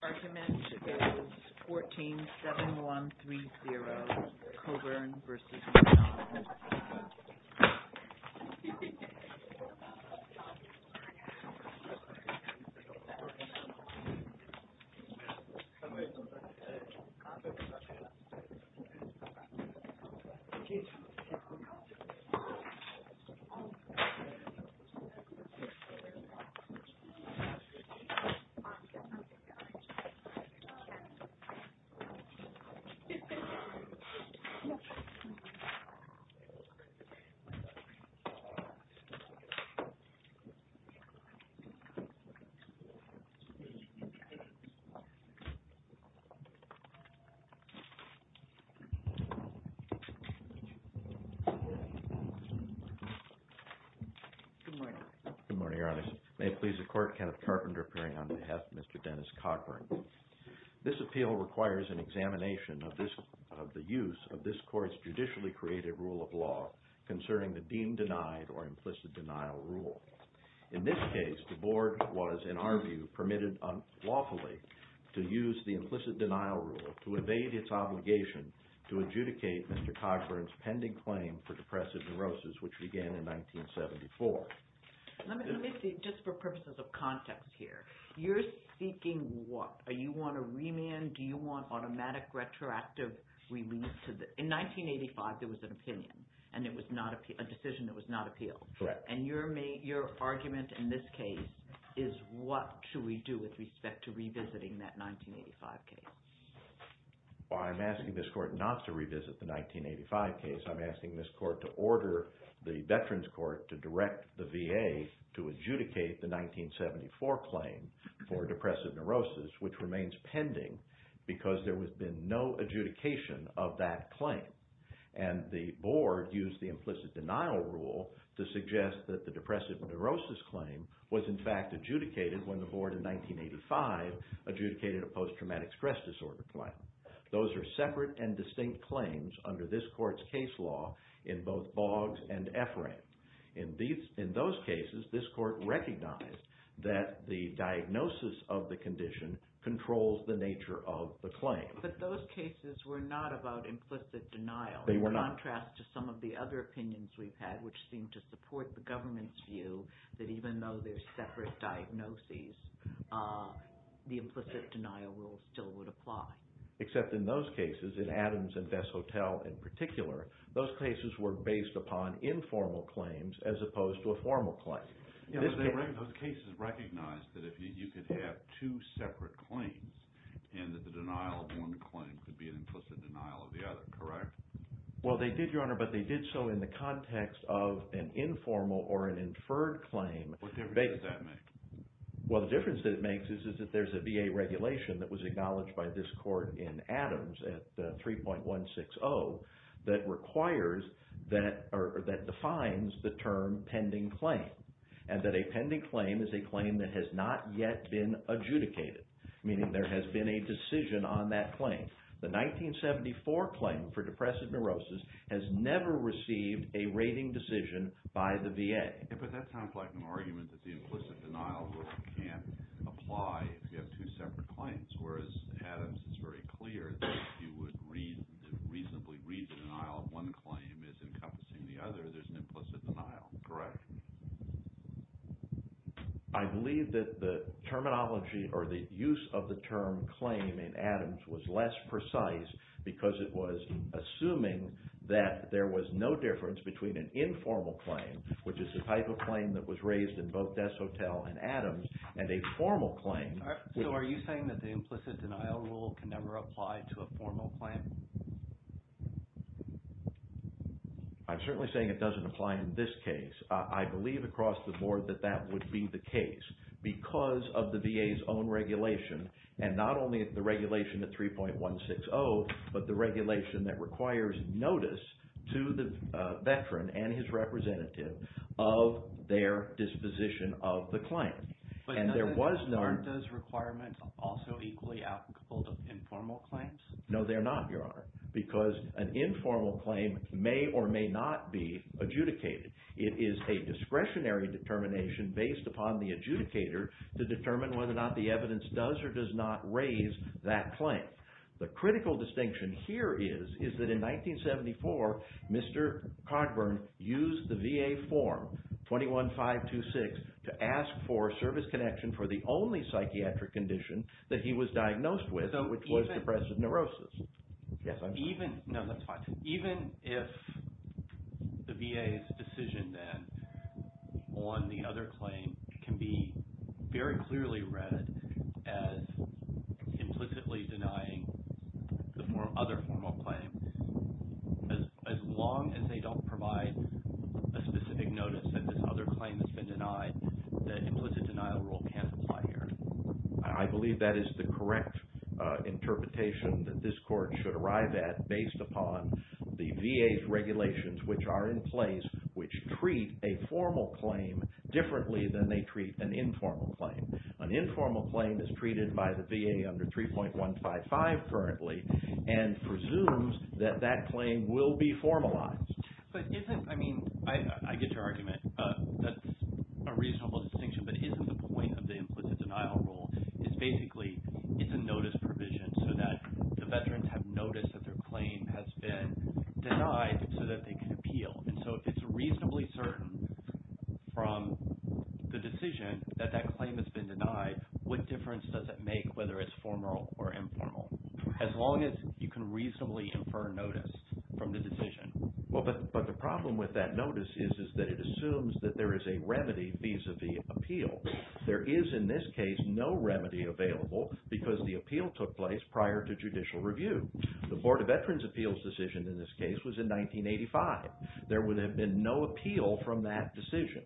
The argument is 14-7-1-3-0, Cogburn v. McDonald. Good morning, Your Honor. May it please the Court, Kenneth Carpenter appearing on behalf of Mr. Dennis Cogburn. This appeal requires an examination of the use of this Court's judicially-created rule of law concerning the deemed-denied or implicit-denial rule. In this case, the Board was, in our view, permitted unlawfully to use the implicit-denial rule to evade its obligation to adjudicate Mr. Cogburn's pending claim for depressive What? Are you on a remand? Do you want automatic retroactive release? In 1985, there was an opinion and it was a decision that was not appealed. Correct. And your argument in this case is what should we do with respect to revisiting that 1985 case? Well, I'm asking this Court not to revisit the 1985 case. I'm asking this Court to order the Veterans Court to direct the VA to adjudicate the 1974 claim for depressive neurosis, which remains pending because there has been no adjudication of that claim. And the Board used the implicit-denial rule to suggest that the depressive neurosis claim was, in fact, adjudicated when the Board in 1985 adjudicated a post-traumatic stress disorder claim. Those are separate and distinct claims under this Court's case law in both Boggs and Efrain. In those cases, this Court recognized that the diagnosis of the condition controls the nature of the claim. But those cases were not about implicit-denial. They were not. In contrast to some of the other opinions we've had, which seem to support the government's view that even though they're separate diagnoses, the implicit-denial rule still would apply. Except in those cases, in Adams and Bess Hotel in particular, those cases were based upon informal claims as opposed to a formal claim. Those cases recognized that you could have two separate claims and that the denial of one claim could be an implicit denial of the other, correct? Well, they did, Your Honor, but they did so in the context of an informal or an inferred claim. What difference does that make? Well, the difference that it makes is that there's a VA regulation that was acknowledged by this Court in Adams at 3.160 that requires that or that defines the term pending claim and that a pending claim is a claim that has not yet been adjudicated, meaning there has been a decision on that claim. The 1974 claim for depressive neurosis has never received a rating decision by the VA. But that sounds like an argument that the implicit-denial rule can't apply if you have two separate claims, whereas Adams is very clear that if you would reasonably read the denial of one claim as encompassing the other, there's an implicit denial, correct? I believe that the terminology or the use of the term claim in Adams was less precise because it was assuming that there was no difference between an informal claim, which is the type of claim that was raised in both Des Hotel and Adams, and a formal claim. So are you saying that the implicit-denial rule can never apply to a formal claim? I'm certainly saying it doesn't apply in this case. I believe across the board that that would be the case because of the VA's own regulation and not only the regulation at 3.160, but the regulation that requires notice to the VA of their disposition of the claim. But in other words, aren't those requirements also equally applicable to informal claims? No, they're not, Your Honor, because an informal claim may or may not be adjudicated. It is a discretionary determination based upon the adjudicator to determine whether or not the evidence does or does not raise that claim. The critical distinction here is that in 1974, Mr. Cogburn used the VA form 21-526 to ask for service connection for the only psychiatric condition that he was diagnosed with, which was depressive neurosis. Yes, I'm sorry. No, that's fine. Even if the VA's decision then on the other claim can be very clearly read as implicitly denying the other formal claim, as long as they don't provide a specific notice that this other claim has been denied, the implicit-denial rule can't apply here. I believe that is the correct interpretation that this Court should arrive at based upon the VA's regulations, which are in place, which treat a formal claim differently than they treat an informal claim. An informal claim is treated by the VA under 3.155 currently and presumes that that claim will be formalized. But isn't, I mean, I get your argument, that's a reasonable distinction, but isn't the point of the implicit-denial rule is basically it's a notice provision so that the veterans have noticed that their claim has been denied so that they can appeal. And so if it's reasonably certain from the decision that that claim has been denied, what difference does it make whether it's formal or informal, as long as you can reasonably infer notice from the decision? Well, but the problem with that notice is that it assumes that there is a remedy vis-a-vis the appeal. There is, in this case, no remedy available because the appeal took place prior to judicial review. The Board of Veterans' Appeals decision in this case was in 1985. There would have been no appeal from that decision.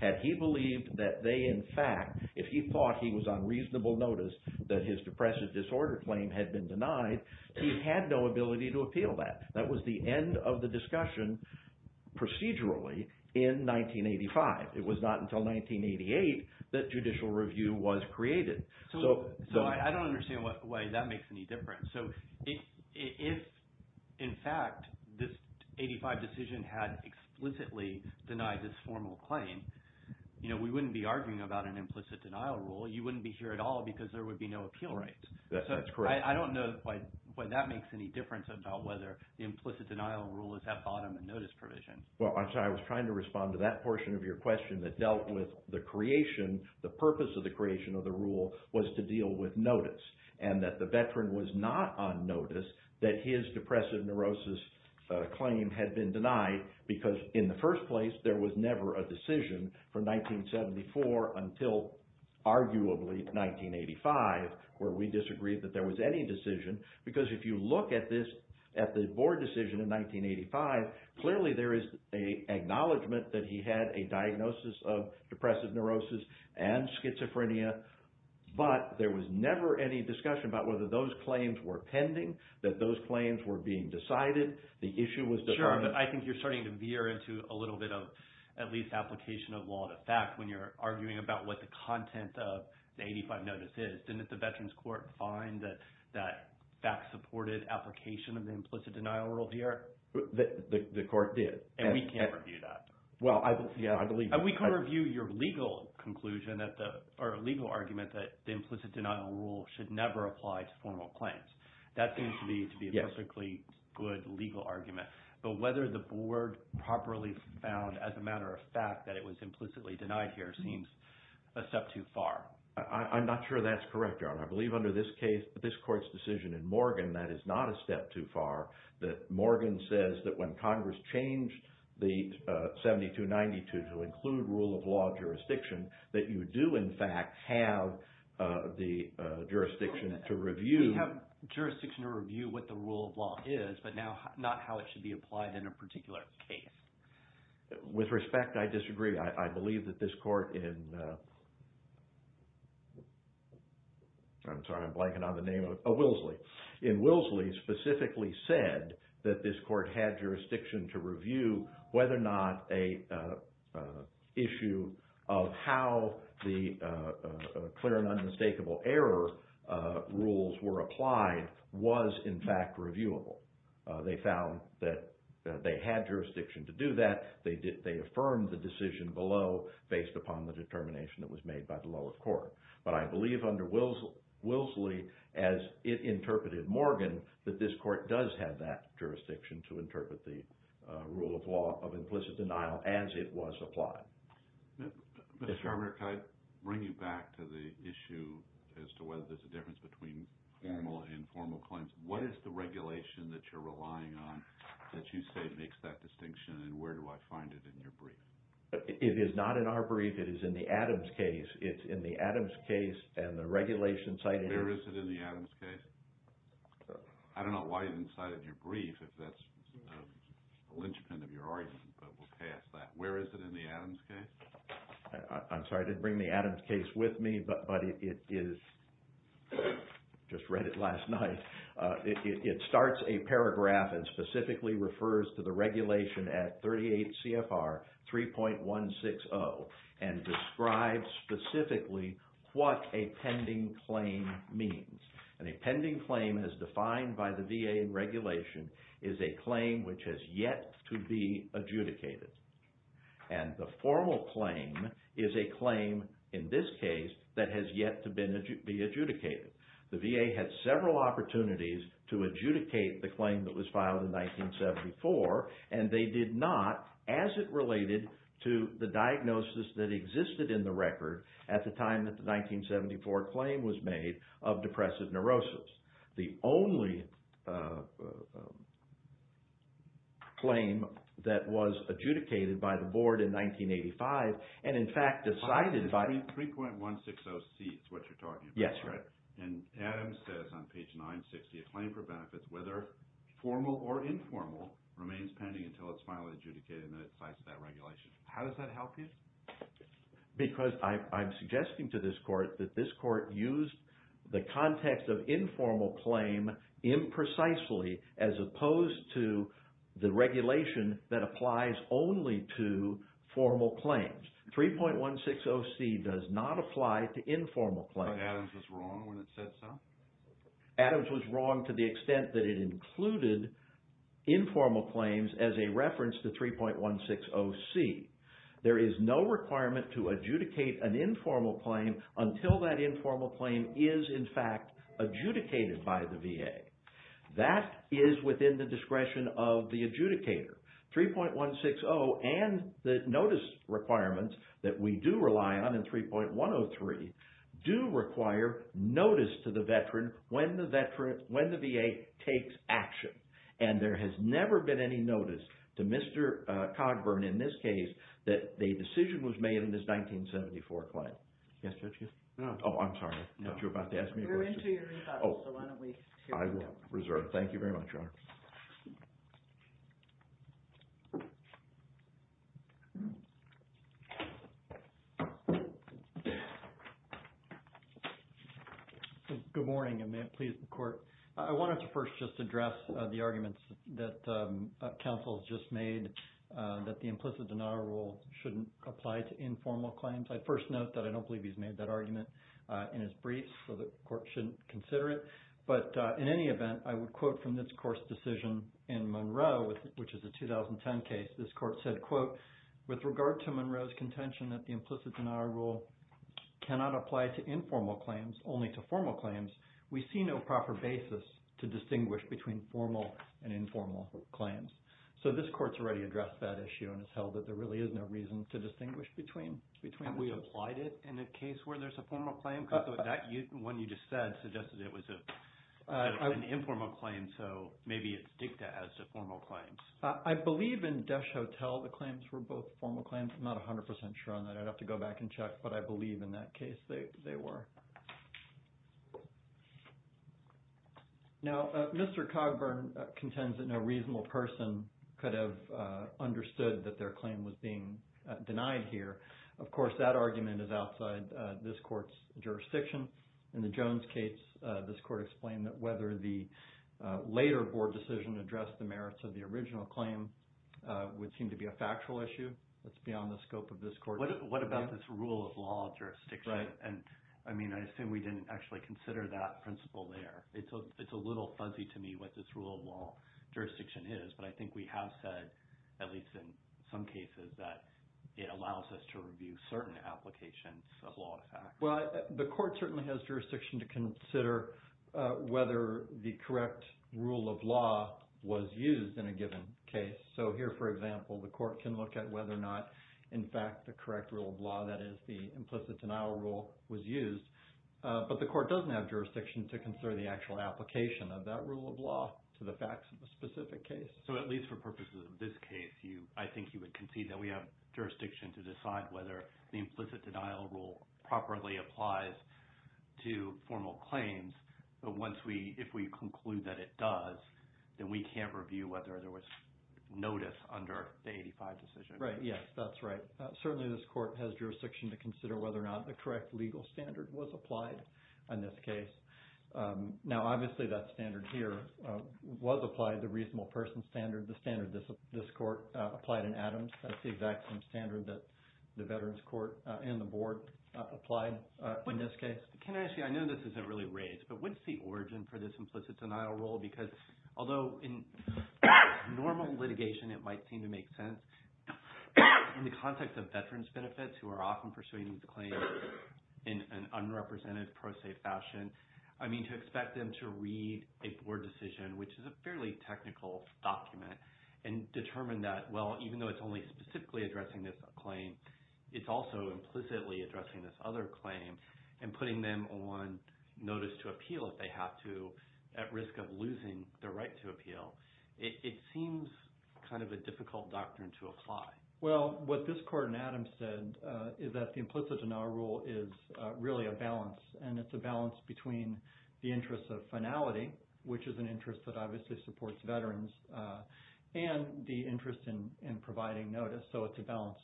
Had he believed that they, in fact, if he thought he was on reasonable notice that his depressive disorder claim had been denied, he had no ability to appeal that. That was the end of the discussion procedurally in 1985. It was not until 1988 that judicial review was created. So I don't understand why that makes any difference. So if, in fact, this 85 decision had explicitly denied this formal claim, you know, we wouldn't be arguing about an implicit-denial rule. You wouldn't be here at all because there would be no appeal rights. That's correct. I don't know why that makes any difference about whether the implicit-denial rule is that bottom notice provision. Well, I'm sorry. I was trying to respond to that portion of your question that dealt with the creation, the purpose of the creation of the rule was to deal with notice and that the veteran was not on notice that his depressive neurosis claim had been denied because, in the first place, there was never a decision from 1974 until, arguably, 1985 where we disagreed that there was any decision because if you look at this, at the board decision in 1985, clearly there is an acknowledgment that he had a diagnosis of depressive neurosis and schizophrenia, but there was never any discussion about whether those claims were pending, that those claims were being decided, the issue was determined. Sure, but I think you're starting to veer into a little bit of, at least, application of law to fact when you're arguing about what the content of the 85 notice is. Didn't the Veterans Court find that that fact-supported application of the implicit-denial rule here? The court did. And we can't review that. Well, I believe... And we can't review your legal conclusion or legal argument that the implicit-denial rule should never apply to formal claims. That seems to be a perfectly good legal argument, but whether the board properly found, as a matter of fact, that it was implicitly denied here seems a step too far. I'm not sure that's correct, Your Honor. I believe under this case, this court's decision in Morgan, that is not a step too far, that Morgan says that when Congress changed the 7292 to include rule of law jurisdiction, that you do, in fact, have the jurisdiction to review... We have jurisdiction to review what the rule of law is, but not how it should be applied in a particular case. With respect, I disagree. I believe that this court in... I'm sorry, I'm blanking on the name of... In Willsley. In Willsley, specifically said that this court had jurisdiction to review whether or not an issue of how the clear and unmistakable error rules were applied was, in fact, reviewable. They found that they had jurisdiction to do that. They affirmed the decision below based upon the determination that was made by the lower court. But I believe under Willsley, as it interpreted Morgan, that this court does have that jurisdiction to interpret the rule of law of implicit denial as it was applied. Mr. Sharmier, can I bring you back to the issue as to whether there's a difference between formal and informal claims? What is the regulation that you're relying on that you say makes that distinction, and where do I find it in your brief? It is not in our brief. It is in the Adams case. It's in the Adams case and the regulation cited... Where is it in the Adams case? I don't know why you didn't cite it in your brief if that's a linchpin of your argument, but we'll pass that. Where is it in the Adams case? I'm sorry, I didn't bring the Adams case with me, but it is... I just read it last night. It starts a paragraph and specifically refers to the regulation at 38 CFR 3.160 and describes specifically what a pending claim means. A pending claim, as defined by the VA regulation, is a claim which has yet to be adjudicated. The formal claim is a claim, in this case, that has yet to be adjudicated. The VA had several opportunities to adjudicate the claim that was filed in 1974, and they at the time that the 1974 claim was made, of depressive neurosis. The only claim that was adjudicated by the board in 1985 and, in fact, decided by... 3.160C is what you're talking about. Yes, correct. And Adams says on page 960, a claim for benefits, whether formal or informal, remains pending until it's finally adjudicated and it cites that regulation. How does that help you? Because I'm suggesting to this court that this court used the context of informal claim imprecisely as opposed to the regulation that applies only to formal claims. 3.160C does not apply to informal claims. But Adams was wrong when it said so? Adams was wrong to the extent that it included informal claims as a reference to 3.160C. There is no requirement to adjudicate an informal claim until that informal claim is, in fact, adjudicated by the VA. That is within the discretion of the adjudicator. 3.160 and the notice requirements that we do rely on in 3.103 do require notice to the veteran when the VA takes action. And there has never been any notice to Mr. Cogburn in this case that the decision was made in this 1974 claim. Yes, Judge? Oh, I'm sorry. I thought you were about to ask me a question. We're into your rebuttal, so why don't we hear from you. I will. Reserved. Good morning, and may it please the court. I wanted to first just address the arguments that counsel has just made that the implicit denial rule shouldn't apply to informal claims. I first note that I don't believe he's made that argument in his briefs, so the court shouldn't consider it. But in any event, I would quote from this court's decision in Monroe, which is a 2010 case. This court said, quote, with regard to Monroe's contention that the implicit denial rule cannot apply to informal claims, only to formal claims, we see no proper basis to distinguish between formal and informal claims. So this court's already addressed that issue and has held that there really is no reason to distinguish between the two. Have we applied it in a case where there's a formal claim? Because the one you just said suggested it was an informal claim, so maybe it's dicta as to formal claims. I believe in Desch-Hotel the claims were both formal claims. I'm not 100% sure on that. I'd have to go back and check, but I believe in that case they were. Now, Mr. Cogburn contends that no reasonable person could have understood that their claim was being denied here. Of course, that argument is outside this court's jurisdiction. In the Jones case, this court explained that whether the later board decision addressed the merits of the original claim would seem to be a factual issue. That's beyond the scope of this court. What about this rule of law jurisdiction? I assume we didn't actually consider that principle there. It's a little fuzzy to me what this rule of law jurisdiction is, but I think we have said, at least in some cases, that it allows us to review certain applications of law and facts. Well, the court certainly has jurisdiction to consider whether the correct rule of law was used in a given case. Here, for example, the court can look at whether or not, in fact, the correct rule of law, that is the implicit denial rule, was used, but the court doesn't have jurisdiction to consider the actual application of that rule of law to the facts of a specific case. At least for purposes of this case, I think you would concede that we have jurisdiction to decide whether the implicit denial rule properly applies to formal claims. If we conclude that it does, then we can't review whether there was notice under the 85 decision. Right. Yes, that's right. Certainly, this court has jurisdiction to consider whether or not the correct legal standard was applied in this case. Now, obviously, that standard here was applied, the reasonable person standard, the standard this court applied in Adams. That's the exact same standard that the Veterans Court and the board applied in this case. Yes. Ken, actually, I know this isn't really raised, but what's the origin for this implicit denial rule? Because, although in normal litigation, it might seem to make sense, in the context of veterans' benefits, who are often pursuing these claims in an unrepresented pro se fashion, I mean, to expect them to read a board decision, which is a fairly technical document, and determine that, well, even though it's only specifically addressing this claim, it's also implicitly addressing this other claim, and putting them on notice to appeal, if they have to, at risk of losing their right to appeal. It seems kind of a difficult doctrine to apply. Well, what this court in Adams said is that the implicit denial rule is really a balance, and it's a balance between the interest of finality, which is an interest that obviously supports veterans, and the interest in providing notice. So it's a balance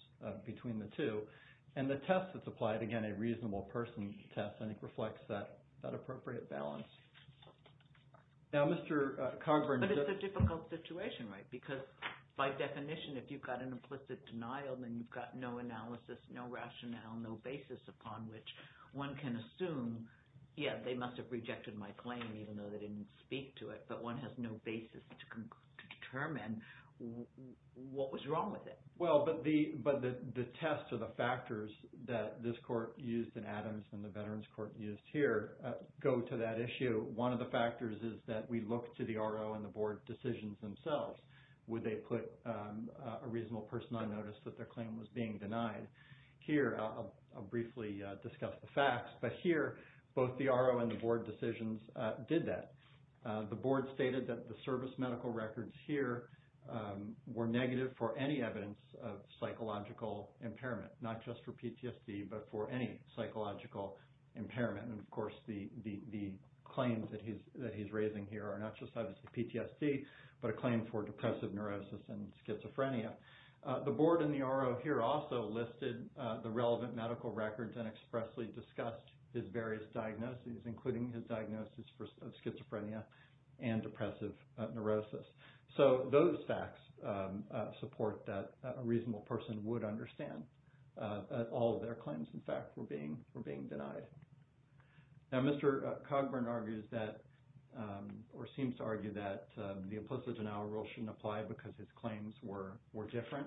between the two. And the test that's applied, again, a reasonable person test, I think, reflects that appropriate balance. Now, Mr. Cogburn- But it's a difficult situation, right? Because, by definition, if you've got an implicit denial, then you've got no analysis, no rationale, no basis upon which one can assume, yeah, they must have rejected my claim, even though they didn't speak to it, but one has no basis to determine what was wrong with it. Well, but the tests or the factors that this court used in Adams and the veterans court used here go to that issue. One of the factors is that we look to the RO and the board decisions themselves. Would they put a reasonable person on notice that their claim was being denied? Here, I'll briefly discuss the facts, but here, both the RO and the board decisions did that. The board stated that the service medical records here were negative for any evidence of psychological impairment, not just for PTSD, but for any psychological impairment. And, of course, the claims that he's raising here are not just, obviously, PTSD, but a claim for depressive neurosis and schizophrenia. The board and the RO here also listed the relevant medical records and expressly discussed his various diagnoses, including his diagnosis of schizophrenia and depressive neurosis. So, those facts support that a reasonable person would understand that all of their claims, in fact, were being denied. Now, Mr. Cogburn argues that, or seems to argue that, the implicit denial rule shouldn't apply because his claims were different.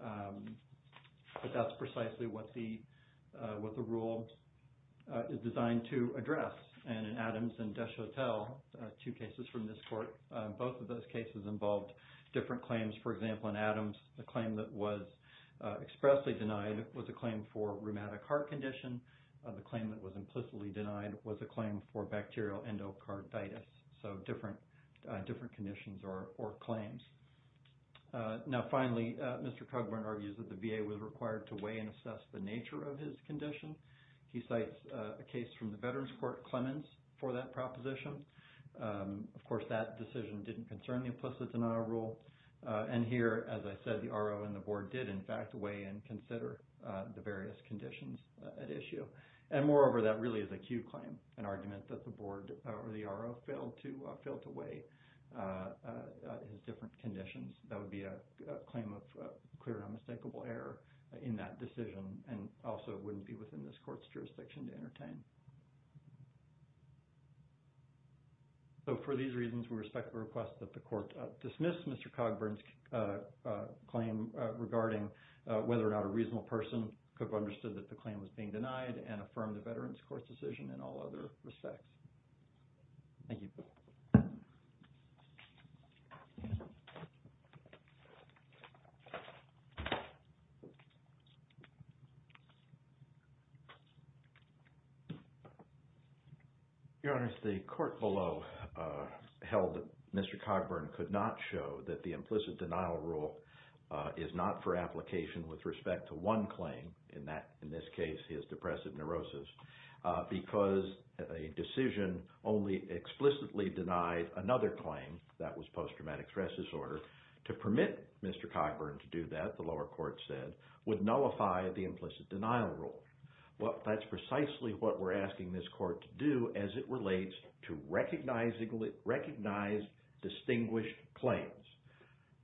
But that's precisely what the rule is designed to address. And in Adams and Deschotel, two cases from this court, both of those cases involved different claims. For example, in Adams, the claim that was expressly denied was a claim for rheumatic heart condition. The claim that was implicitly denied was a claim for bacterial endocarditis. So, different conditions or claims. Now, finally, Mr. Cogburn argues that the VA was required to weigh and assess the nature of his condition. He cites a case from the Veterans Court, Clemens, for that proposition. Of course, that decision didn't concern the implicit denial rule. And here, as I said, the RO and the board did, in fact, weigh and consider the various conditions at issue. And moreover, that really is a Q claim, an argument that the board or the RO failed to weigh his different conditions. That would be a claim of clear and unmistakable error in that decision and also wouldn't be within this court's jurisdiction to entertain. So, for these reasons, we respectfully request that the court dismiss Mr. Cogburn's claim regarding whether or not a reasonable person could have understood that the claim was being denied and affirm the Veterans Court's decision in all other respects. Thank you. Your Honor, the court below held that Mr. Cogburn could not show that the implicit denial rule is not for application with respect to one claim, in this case, his depressive neurosis, because a decision only explicitly denied another claim, that was post-traumatic stress disorder, to permit Mr. Cogburn to do that, the lower court said, would nullify the implicit denial rule. Well, that's precisely what we're asking this court to do as it relates to recognized distinguished claims.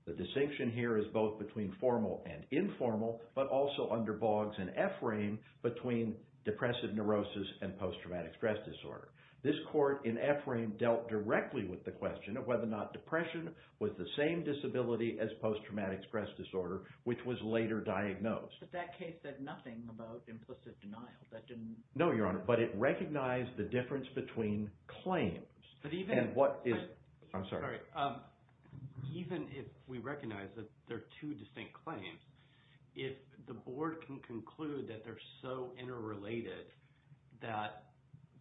The distinction here is both between formal and informal, but also under bogs and ephraim between depressive neurosis and post-traumatic stress disorder. This court, in ephraim, dealt directly with the question of whether or not depression was the same disability as post-traumatic stress disorder, which was later diagnosed. But that case said nothing about implicit denial. No, Your Honor, but it recognized the difference between claims. I'm sorry. Even if we recognize that there are two distinct claims, if the board can conclude that they're so interrelated that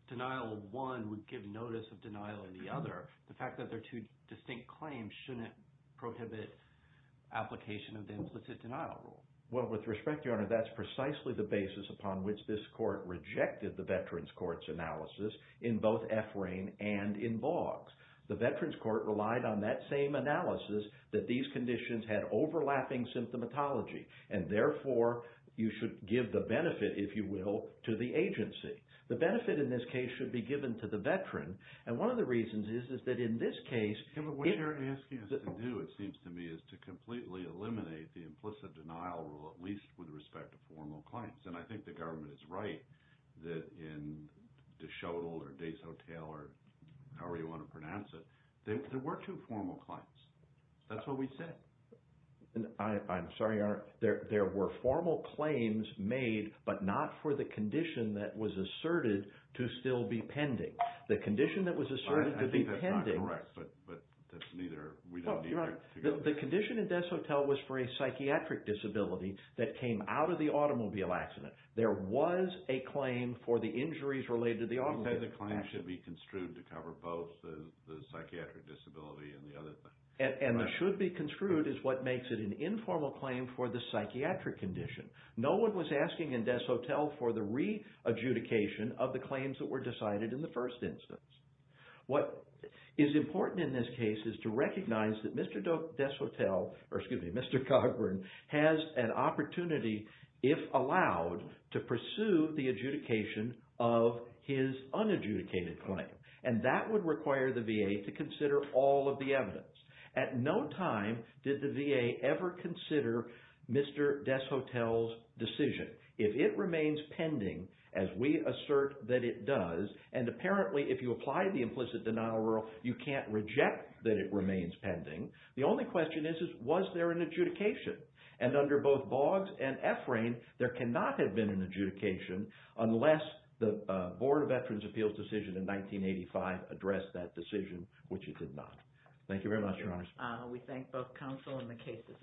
denial of one would give notice of denial of the other, the fact that they're two distinct claims shouldn't prohibit application of the implicit denial rule. Well, with respect, Your Honor, that's precisely the basis upon which this court rejected the The Veterans Court relied on that same analysis that these conditions had overlapping symptomatology. And therefore, you should give the benefit, if you will, to the agency. The benefit in this case should be given to the veteran. And one of the reasons is that in this case— What you're asking us to do, it seems to me, is to completely eliminate the implicit denial rule, at least with respect to formal claims. And I think the government is right that in Deschotel or Deshotel or however you want to pronounce it, there were two formal claims. That's what we said. I'm sorry, Your Honor. There were formal claims made, but not for the condition that was asserted to still be pending. The condition that was asserted to be pending— I think that's not correct, but that's neither—we don't need to figure out this. The condition in Deschotel was for a psychiatric disability that came out of the automobile accident. There was a claim for the injuries related to the automobile accident. You said the claim should be construed to cover both the psychiatric disability and the other thing. And the should be construed is what makes it an informal claim for the psychiatric condition. No one was asking in Deschotel for the re-adjudication of the claims that were decided in the first instance. What is important in this case is to recognize that Mr. Deschotel, or excuse me, Mr. Cogburn, has an opportunity, if allowed, to pursue the adjudication of his unadjudicated claim. And that would require the VA to consider all of the evidence. At no time did the VA ever consider Mr. Deschotel's decision. If it remains pending, as we assert that it does, and apparently if you apply the implicit denial rule, you can't reject that it remains pending. The only question is, was there an adjudication? And under both Boggs and Efrain, there cannot have been an adjudication unless the Board of Veterans' Appeals decision in 1985 addressed that decision, which it did not. Thank you very much, Your Honors. We thank both counsel and the cases.